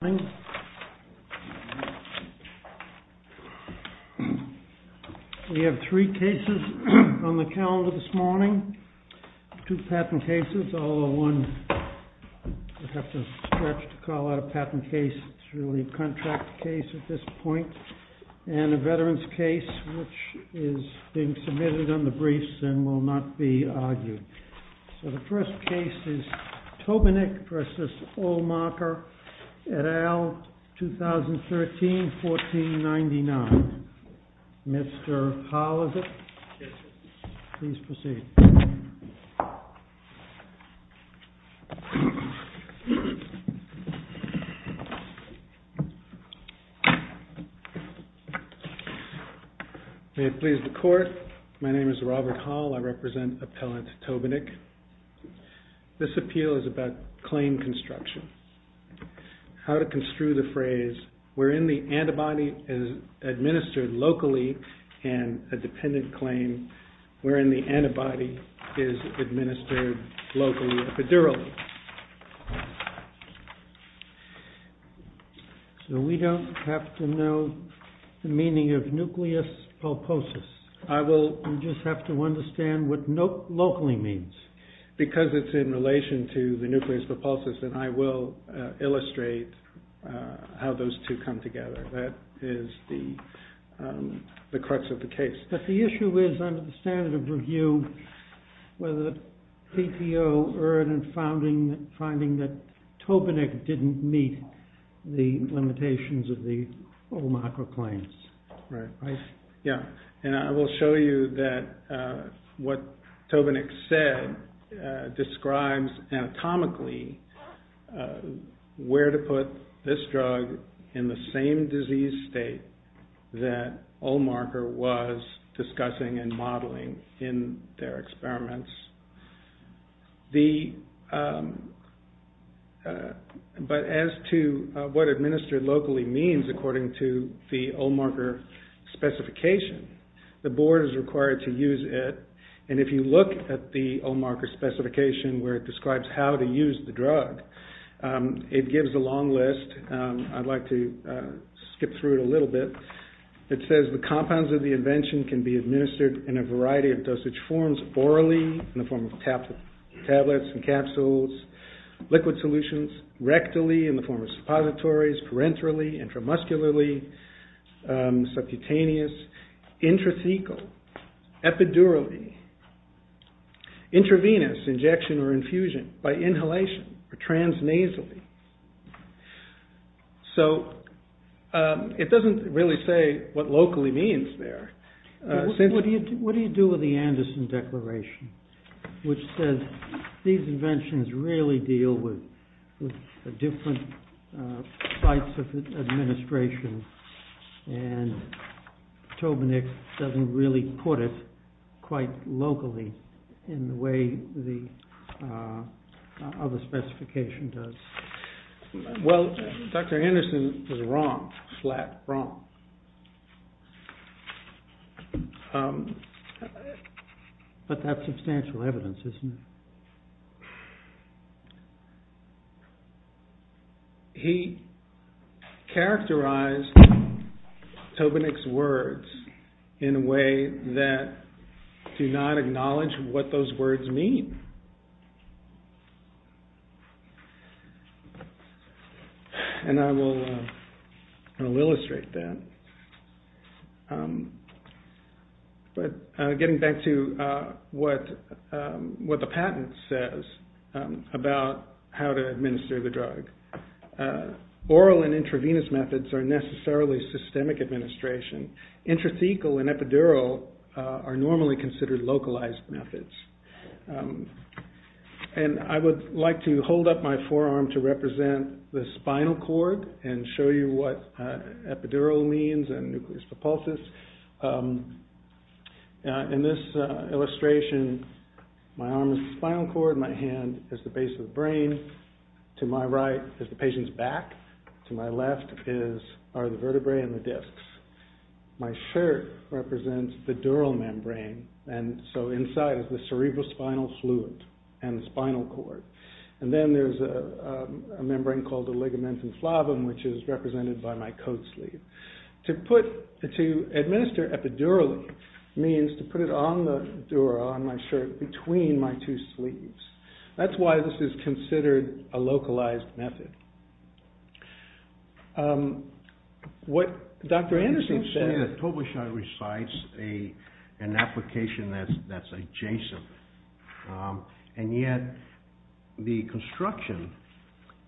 We have three cases on the calendar this morning, two patent cases, although one will have to stretch to call out a patent case, it's really a contract case at this point, and a veteran's case which is being submitted on the briefs and will not be argued. So the first case is Tobinick v. Olmarker, et al., 2013-1499. Mr. Hall, is it? Yes, sir. Please proceed. May it please the court, my name is Robert Hall, I represent appellant Tobinick. This appeal is about claim construction. How to construe the phrase, wherein the antibody is administered locally and a dependent claim, wherein the antibody is administered locally epidurally. So we don't have to know the meaning of nucleus pulposus, we just have to understand what locally means. Because it's in relation to the nucleus pulposus, and I will illustrate how those two come together. That is the crux of the case. But the issue is, under the standard of review, whether the PTO earned in finding that Tobinick didn't meet the limitations of the Olmarker claims, right? Yeah, and I will show you that what Tobinick said describes anatomically where to put this disease state that Olmarker was discussing and modeling in their experiments. But as to what administered locally means according to the Olmarker specification, the board is required to use it, and if you look at the Olmarker specification where it describes how to use the drug, it gives a long list, I'd like to skip through it a little bit. It says, the compounds of the invention can be administered in a variety of dosage forms, orally in the form of tablets and capsules, liquid solutions, rectally in the form of suppositories, parenterally, intramuscularly, subcutaneous, intrathecal, epidurally, intravenous, injection or infusion, by inhalation, or transnasally. So it doesn't really say what locally means there. What do you do with the Anderson Declaration, which says these inventions really deal with different types of administration, and Tobinick doesn't really put it quite locally in the way the other specification does. Well, Dr. Anderson was wrong, flat wrong. But that's substantial evidence, isn't it? He characterized Tobinick's words in a way that do not acknowledge what those words mean. And I will illustrate that. But getting back to what the patent says about how to administer the drug. Oral and intravenous methods are necessarily systemic administration. Intrathecal and epidural are normally considered localized methods. And I would like to hold up my forearm to represent the spinal cord and show you what is propulsus. In this illustration, my arm is the spinal cord, my hand is the base of the brain. To my right is the patient's back, to my left are the vertebrae and the discs. My shirt represents the dural membrane, and so inside is the cerebrospinal fluid and the spinal cord. And then there's a membrane called the ligamentum flavin, which is represented by my coat sleeve. To administer epidurally means to put it on the dura, on my shirt, between my two sleeves. That's why this is considered a localized method. What Dr. Anderson said... It seems to me that Tobusha recites an application that's adjacent. And yet, the construction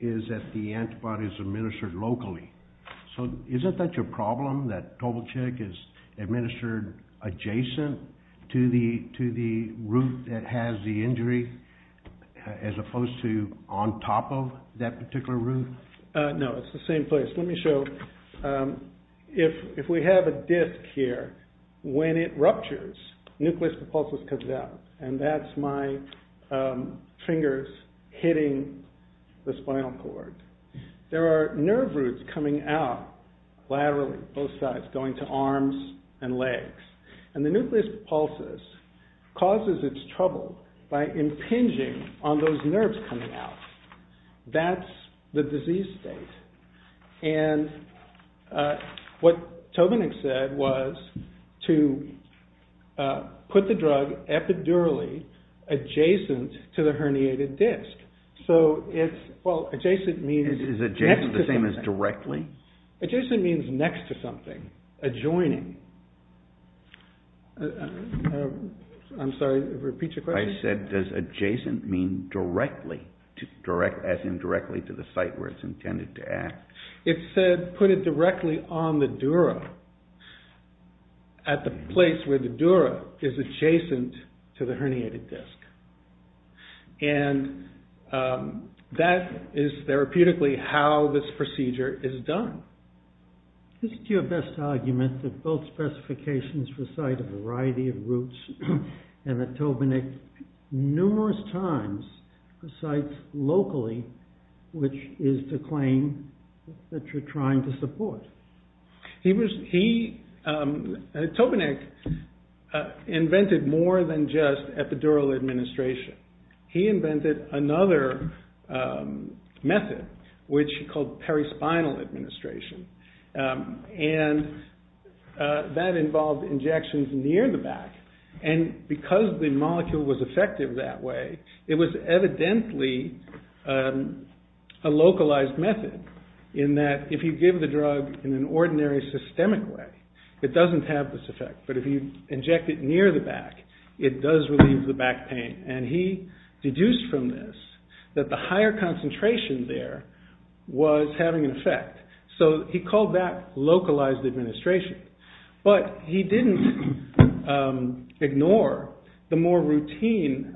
is that the antibody is administered locally. So isn't that your problem, that Tobuchek is administered adjacent to the root that has the injury, as opposed to on top of that particular root? No, it's the same place. Let me show... If we have a disc here, when it ruptures, nucleus propulsus comes out. And that's my fingers hitting the spinal cord. There are nerve roots coming out laterally, both sides, going to arms and legs. And the nucleus propulsus causes its trouble by impinging on those nerves coming out. That's the disease state. And what Tobinick said was to put the drug epidurally adjacent to the herniated disc. Is adjacent the same as directly? Adjacent means next to something, adjoining. I'm sorry, repeat your question? I said, does adjacent mean directly, as in directly to the site where it's intended to act? It said, put it directly on the dura, at the place where the dura is adjacent to the herniated disc. And that is therapeutically how this procedure is done. Isn't your best argument that both specifications recite a variety of roots, and that Tobinick numerous times recites locally, which is the claim that you're trying to support? Tobinick invented more than just epidural administration. He invented another method, which he called perispinal administration. And that involved injections near the back. And because the molecule was effective that way, it was evidently a localized method, in that if you give the drug in an ordinary systemic way, it doesn't have this effect. But if you inject it near the back, it does relieve the back pain. And he deduced from this that the higher concentration there was having an effect. So he called that localized administration. But he didn't ignore the more routine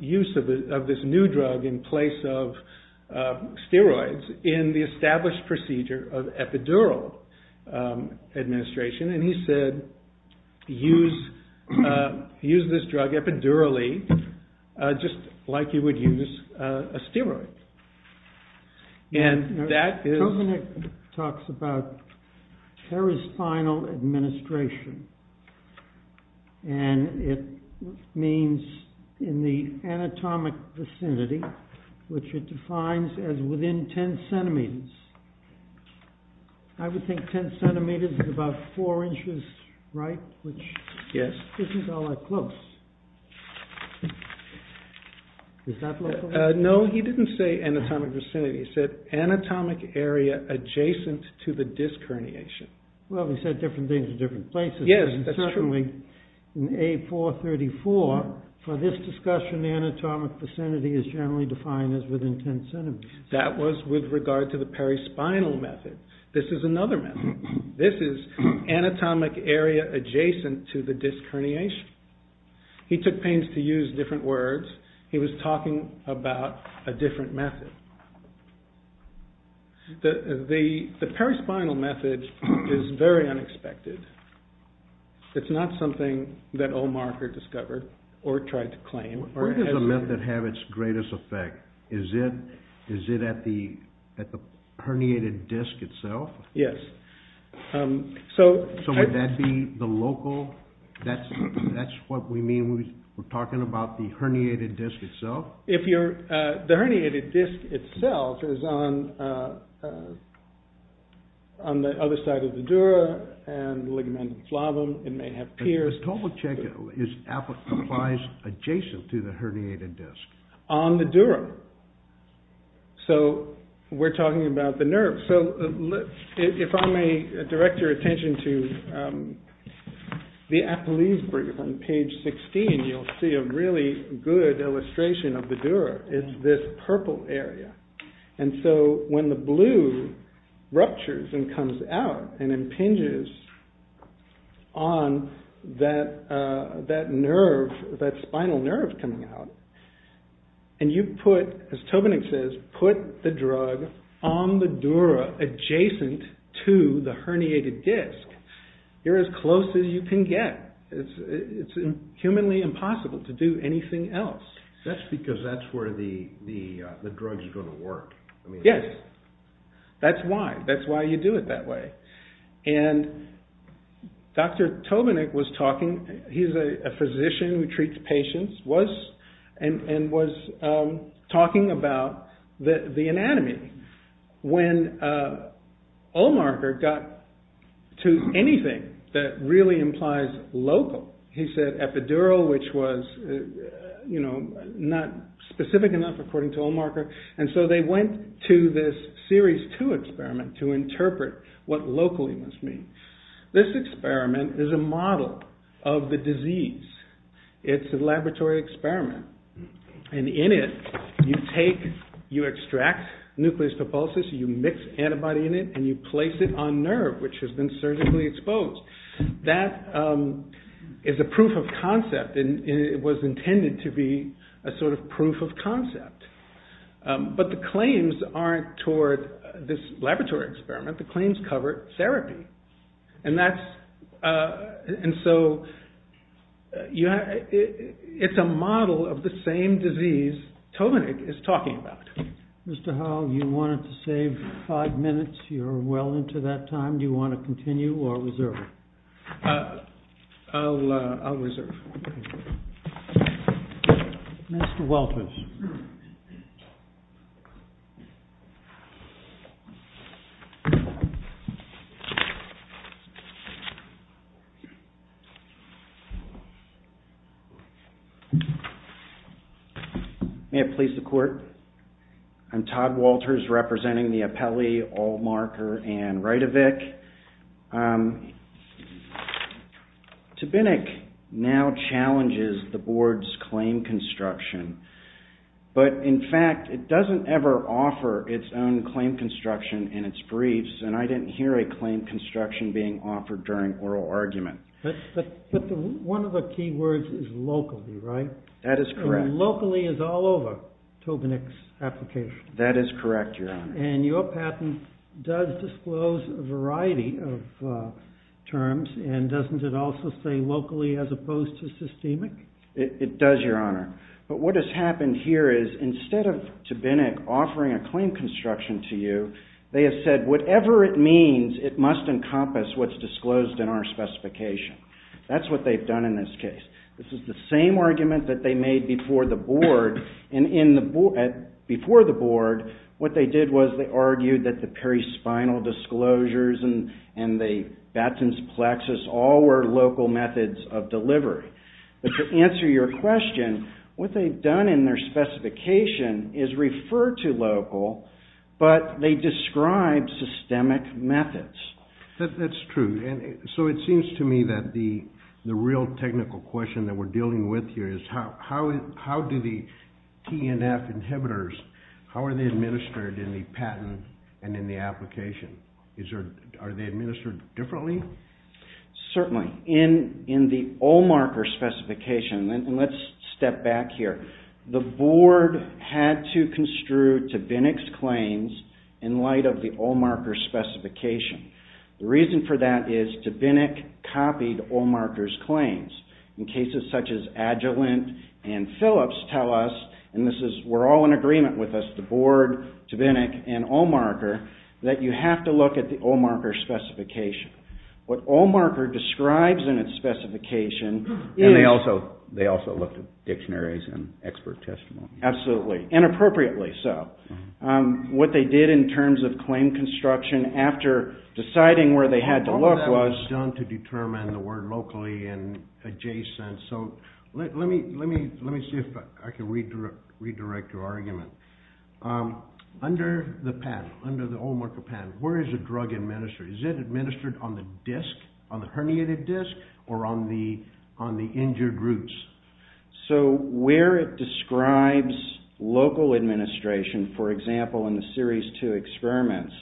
use of this new drug in place of steroids, in the established procedure of epidural administration. And he said, use this drug epidurally, just like you would use a steroid. And that is... Tobinick talks about perispinal administration. And it means in the anatomic vicinity, which it defines as within 10 centimeters. I would think 10 centimeters is about 4 inches, right? Yes. Which isn't all that close. Is that localized? No, he didn't say anatomic vicinity. He said anatomic area adjacent to the disc herniation. Well, he said different things in different places. Yes, that's true. Certainly in A434, for this discussion, anatomic vicinity is generally defined as within 10 centimeters. That was with regard to the perispinal method. This is another method. This is anatomic area adjacent to the disc herniation. He took pains to use different words. He was talking about a different method. The perispinal method is very unexpected. It's not something that Omarker discovered or tried to claim. Where does the method have its greatest effect? Is it at the herniated disc itself? Yes. So would that be the local? That's what we mean when we're talking about the herniated disc itself? The herniated disc itself is on the other side of the dura and ligamentum flavum. It may have peers. The total check is applied adjacent to the herniated disc? On the dura. So we're talking about the nerve. So if I may direct your attention to the Apolyse brief on page 16, you'll see a really good illustration of the dura. It's this purple area. And so when the blue ruptures and comes out and impinges on that nerve, that spinal nerve coming out, and you put, as Tobinick says, put the drug on the dura adjacent to the herniated disc, you're as close as you can get. It's humanly impossible to do anything else. That's because that's where the drug is going to work. Yes. That's why. That's why you do it that way. And Dr. Tobinick was talking, he's a physician who treats patients, and was talking about the anatomy. When Ohlmarker got to anything that really implies local, he said epidural which was not specific enough according to Ohlmarker, and so they went to this series two experiment to interpret what locally must mean. This experiment is a model of the disease. It's a laboratory experiment. And in it, you take, you extract nucleus propulsus, you mix antibody in it and you place it on nerve which has been surgically exposed. That is a proof of concept and it was intended to be a sort of proof of concept. But the claims aren't toward this laboratory experiment. The claims cover therapy. And so it's a model of the same disease Tobinick is talking about. Mr. Howell, you wanted to save five minutes. You're well into that time. Do you want to continue or reserve? I'll reserve. Mr. Walters. May it please the court. I'm Todd Walters, representing the appellee Ohlmarker and Rite-of-Vic. Tobinick now challenges the board's claim construction. But in fact, it doesn't ever offer its own claim construction in its briefs and I didn't hear a claim construction being offered during oral argument. But one of the key words is locally, right? That is correct. Locally is all over Tobinick's application. That is correct, Your Honor. And your patent does disclose a variety of terms and doesn't it also say locally as opposed to systemic? It does, Your Honor. But what has happened here is, instead of Tobinick offering a claim construction to you, they have said, whatever it means, it must encompass what's disclosed in our specification. That's what they've done in this case. This is the same argument that they made before the board. And before the board, what they did was they argued that the perispinal disclosures and the baton's plexus all were local methods of delivery. But to answer your question, what they've done in their specification is refer to local, but they describe systemic methods. That's true. So it seems to me that the real technical question that we're dealing with here is how do the TNF inhibitors, how are they administered in the patent and in the application? Are they administered differently? Certainly. In the Olmarker specification, and let's step back here, the board had to construe Tobinick's claims in light of the Olmarker specification. The reason for that is Tobinick copied Olmarker's claims. In cases such as Agilent and Phillips tell us, and we're all in agreement with this, the board, Tobinick, and Olmarker, that you have to look at the Olmarker specification. What Olmarker describes in its specification is... Expert testimony. Absolutely. Inappropriately so. What they did in terms of claim construction after deciding where they had to look was... All of that was done to determine the word locally and adjacent. So let me see if I can redirect your argument. Under the Olmarker patent, where is the drug administered? Is it administered on the disc, on the herniated disc, or on the injured roots? So where it describes local administration, for example, in the Series 2 experiments,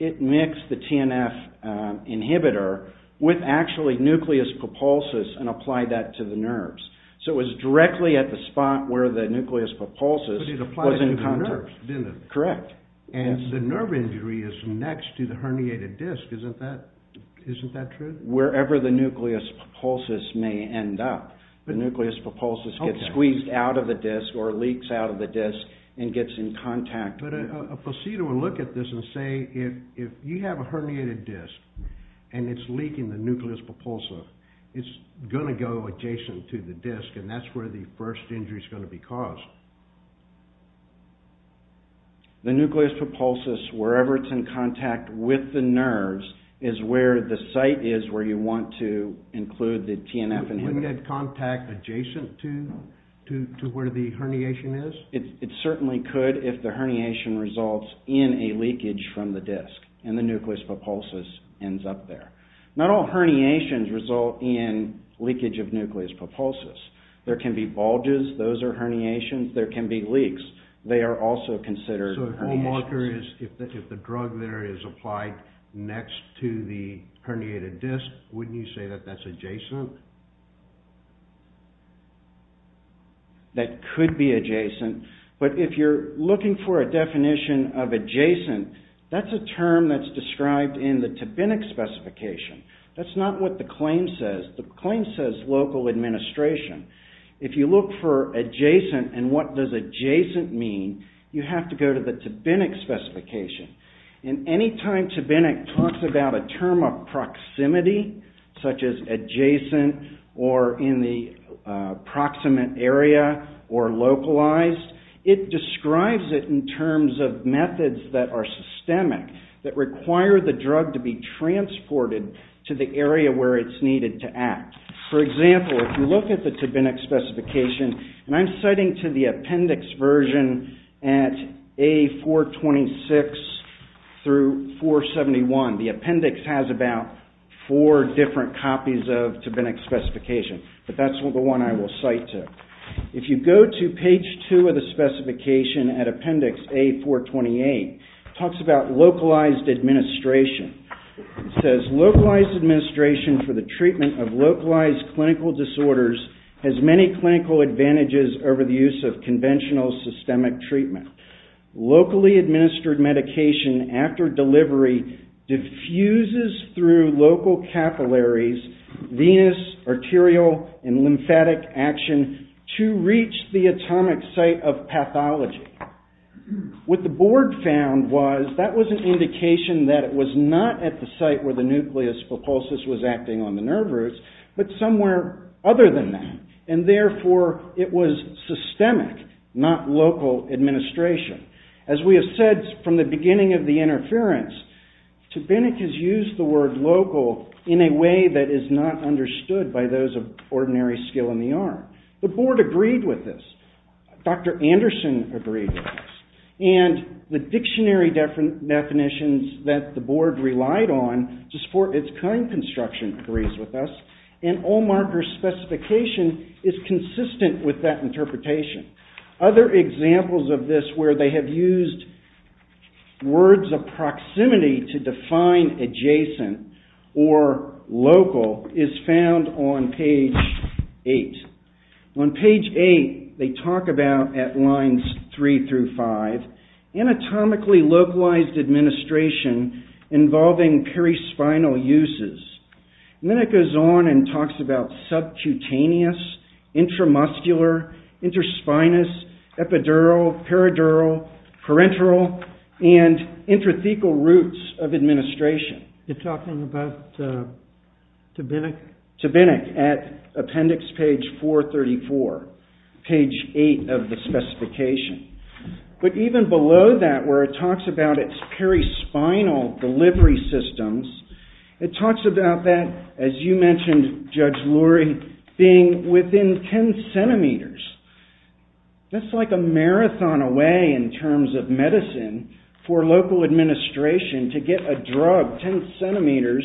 it mixed the TNF inhibitor with actually nucleus propulsus and applied that to the nerves. So it was directly at the spot where the nucleus propulsus was in contact. But it applied to the nerves, didn't it? Correct. And the nerve injury is next to the herniated disc. Isn't that true? Wherever the nucleus propulsus may end up. The nucleus propulsus gets squeezed out of the disc or leaks out of the disc and gets in contact. But a procedure would look at this and say, if you have a herniated disc and it's leaking the nucleus propulsor, it's going to go adjacent to the disc and that's where the first injury is going to be caused. The nucleus propulsus, wherever it's in contact with the nerves, is where the site is where you want to include the TNF inhibitor. Wouldn't that contact adjacent to where the herniation is? It certainly could if the herniation results in a leakage from the disc and the nucleus propulsus ends up there. Not all herniations result in leakage of nucleus propulsus. There can be bulges, those are herniations. There can be leaks, they are also considered herniations. So if the drug there is applied next to the herniated disc, wouldn't you say that that's adjacent? That could be adjacent, but if you're looking for a definition of adjacent, that's a term that's described in the Tabinik specification. That's not what the claim says. The claim says local administration. If you look for adjacent and what does adjacent mean, you have to go to the Tabinik specification. And any time Tabinik talks about a term of proximity, such as adjacent or in the proximate area or localized, it describes it in terms of methods that are systemic, that require the drug to be transported to the area where it's needed to act. For example, if you look at the Tabinik specification, and I'm citing to the appendix version at A426 through 471, the appendix has about four different copies of Tabinik specification, but that's the one I will cite to. If you go to page 2 of the specification at appendix A428, it talks about localized administration. It says, localized administration for the treatment of localized clinical disorders has many clinical advantages over the use of conventional systemic treatment. Locally administered medication after delivery diffuses through local capillaries, venous, arterial, and lymphatic action to reach the atomic site of pathology. What the board found was, that was an indication that it was not at the site where the nucleus pulposus was acting on the nerve roots, but somewhere other than that. And therefore, it was systemic, not local administration. As we have said from the beginning of the interference, Tabinik has used the word local in a way that is not understood by those of ordinary skill in the art. The board agreed with this. Dr. Anderson agreed with this. And the dictionary definitions that the board relied on to support its current construction agrees with us. And Ohlmacher's specification is consistent with that interpretation. Other examples of this, where they have used words of proximity to define adjacent or local, is found on page 8. On page 8, they talk about at lines 3 through 5, anatomically localized administration involving perispinal uses. And then it goes on and talks about subcutaneous, intramuscular, interspinous, epidural, peridural, parenteral and intrathecal roots of administration. You're talking about Tabinik? Tabinik, at appendix page 434, page 8 of the specification. But even below that, where it talks about its perispinal delivery systems, it talks about that, as you mentioned, Judge Lurie, being within 10 centimeters. That's like a marathon away in terms of medicine for local administration to get a drug 10 centimeters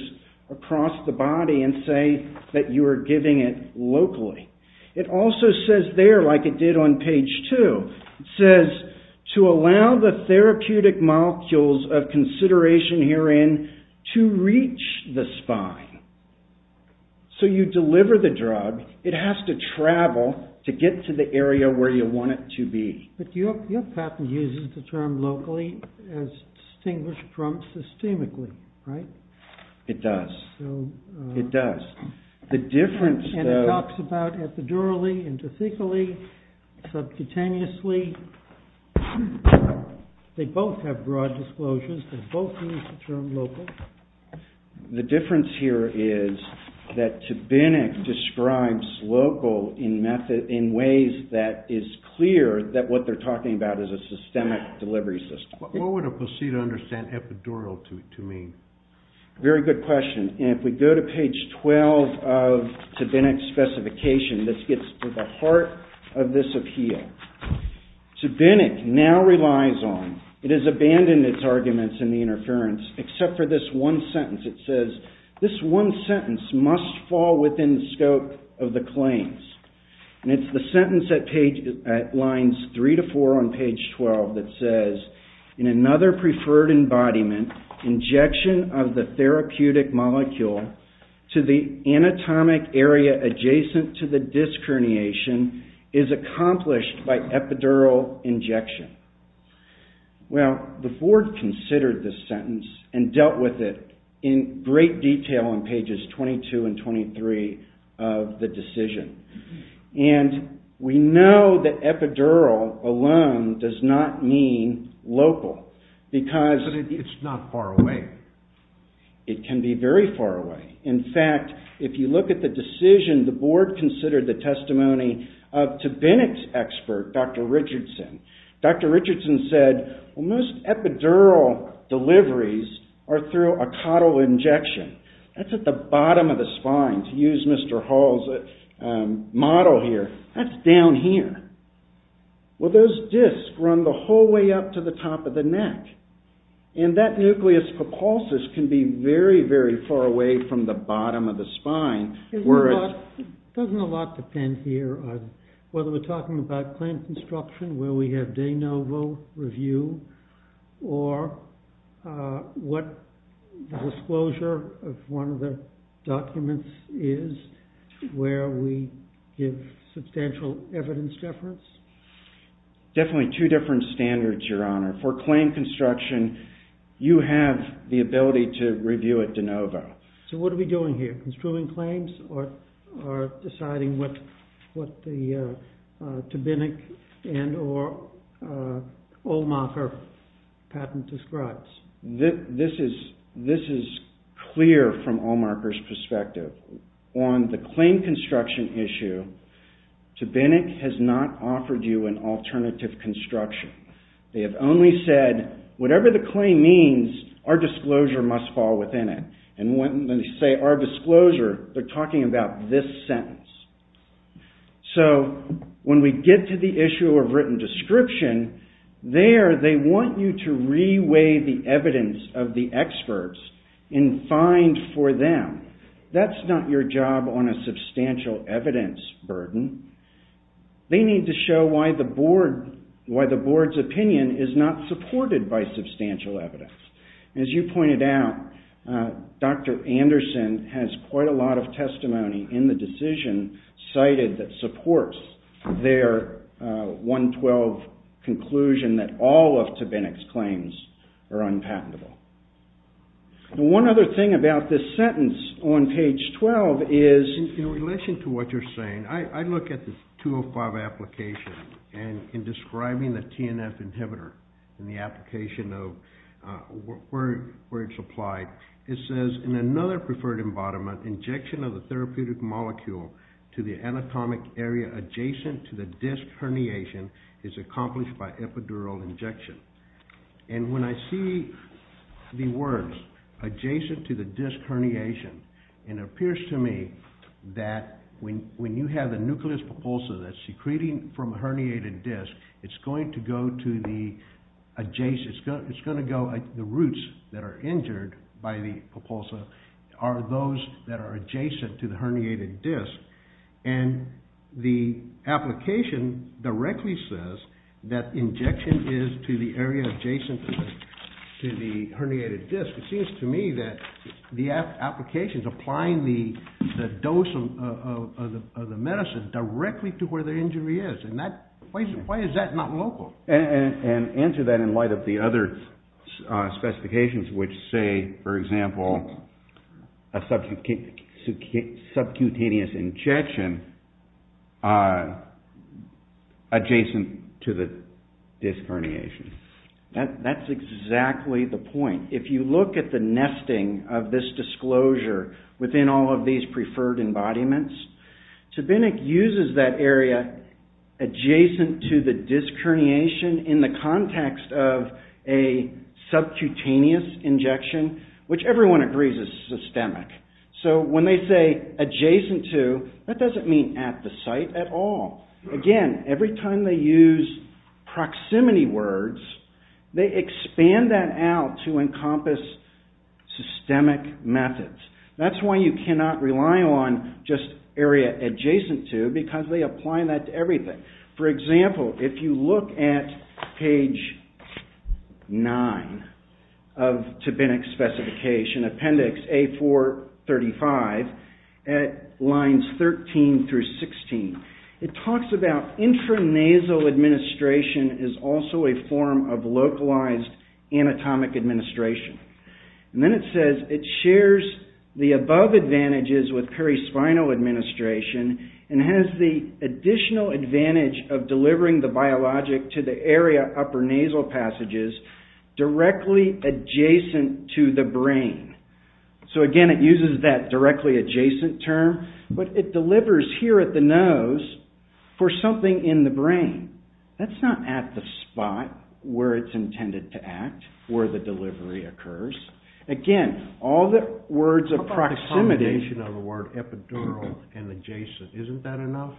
across the body and say that you are giving it locally. It also says there, like it did on page 2, it says, to allow the therapeutic molecules of consideration herein to reach the spine. So you deliver the drug, it has to travel to get to the area where you want it to be. But your patent uses the term locally as distinguished from systemically, right? It does. It does. The difference, though... And it talks about epidurally, intrathecally, subcutaneously. They both have broad disclosures. They both use the term local. The difference here is that TBINNC describes local in ways that is clear that what they're talking about is a systemic delivery system. What would a placebo understand epidural to mean? Very good question. And if we go to page 12 of TBINNC's specification, this gets to the heart of this appeal. TBINNC now relies on, it has abandoned its arguments in the interference except for this one sentence. It says, this one sentence must fall within the scope of the claims. And it's the sentence at lines 3 to 4 on page 12 that says, in another preferred embodiment, injection of the therapeutic molecule to the anatomic area adjacent to the disc herniation is accomplished by epidural injection. Well, the board considered this sentence and dealt with it in great detail on pages 22 and 23 of the decision. And we know that epidural alone does not mean local because... But it's not far away. It can be very far away. In fact, if you look at the decision, the board considered the testimony of TBINNC's expert, Dr. Richardson. Dr. Richardson said, well, most epidural deliveries are through a caudal injection. That's at the bottom of the spine to use Mr. Hall's model here. That's down here. Well, those discs run the whole way up to the top of the neck. And that nucleus propulsus can be very, very far away from the bottom of the spine where it's... Doesn't a lot depend here on whether we're talking about claim construction where we have de novo review or what the disclosure of one of the documents is where we give substantial evidence deference? Definitely two different standards, Your Honor. For claim construction, you have the ability to review it de novo. So what are we doing here? Construing claims or deciding what what the Binnick and or Allmarker patent describes? clear from Allmarker's perspective. On the claim construction issue, Binnick has not offered you an alternative construction. They have only said, whatever the claim means, our disclosure must fall within it. And when they say our disclosure, they're talking about this sentence. So when we get to the issue of written description, there they want you to re-weigh the evidence of the experts and find for them that's not your job on a substantial evidence burden. They need to show why the board's opinion is not supported by substantial evidence. As you pointed out, Dr. Anderson has quite a lot of testimony in the decision cited that supports their 112 conclusion that all of to Binnick's claims are unpatentable. One other thing about this sentence on page 12 is in relation to what you're saying, I look at the 205 application and in describing the TNF inhibitor in the application of where it's applied, it says in another preferred embodiment, injection of the therapeutic molecule to the anatomic area adjacent to the disc herniation is accomplished by epidural injection. And when I see the words adjacent to the disc herniation it appears to me that when you have a nucleus propulsa that's secreting from a herniated disc, it's going to go to the adjacent, it's going to go, the roots that are injured by the those that are adjacent to the herniated disc and the application directly says that injection is to the area adjacent to the herniated disc it seems to me that the application is applying the dose of the medicine directly to where the injury is and that, why is that not local? And answer that in light of the other specifications which say, for example a subcutaneous injection adjacent to the disc herniation. That's exactly the point. If you look at the nesting of this disclosure within all of these preferred embodiments, Tabinic uses that area adjacent to the disc herniation in the context of a subcutaneous injection, which everyone agrees is systemic. So when they say adjacent to, that doesn't mean at the site at all. Again, every time they use proximity words they expand that out to encompass systemic methods. That's why you cannot rely on just area adjacent to because they apply that to everything. For example, if you look at page 9 of Tabinic's specification appendix A435 at lines 13 through 16 it talks about intranasal administration is also a form of localized anatomic administration. And then it says, it shares the above advantages with perispinal administration and has the additional advantage of delivering the nasal passages directly adjacent to the brain. So again, it uses that directly adjacent term but it delivers here at the nose for something in the brain. That's not at the spot where it's intended to act, where the delivery occurs. Again, all the words of proximity... What about the combination of the word epidural and adjacent? Isn't that enough?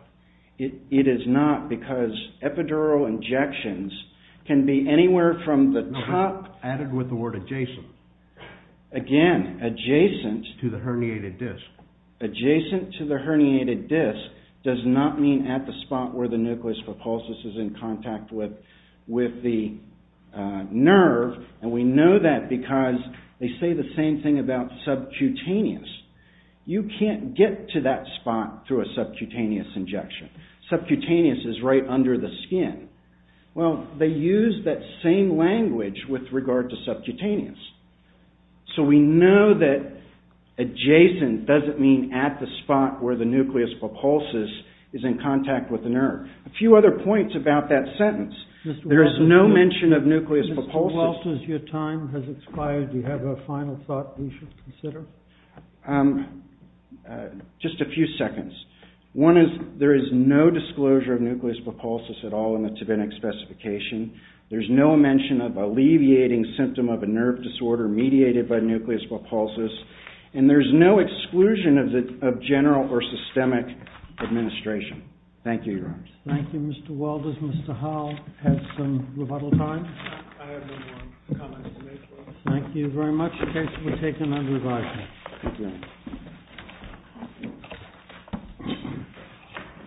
It is not because epidural injections can be anywhere from the top... Added with the word adjacent. Again, adjacent... To the herniated disc. Adjacent to the herniated disc does not mean at the spot where the nucleus propulsus is in contact with the nerve and we know that because they say the same thing about subcutaneous. You can't get to that spot through a subcutaneous injection. Subcutaneous is right under the skin. Well, they use that same language with regard to subcutaneous. So we know that adjacent doesn't mean at the spot where the nucleus propulsus is in contact with the nerve. A few other points about that sentence. There is no mention of nucleus propulsus... Mr. Walters, your time has expired. Do you have a final thought we should consider? Just a few seconds. One is there is no disclosure of nucleus propulsus at all in the specification. There's no mention of alleviating symptom of a nerve disorder mediated by nucleus propulsus and there's no exclusion of general or systemic administration. Thank you. Thank you, Mr. Walters. Mr. Howell has some rebuttal time. I have no more comments to make. Thank you very much. Thank you. Thank you.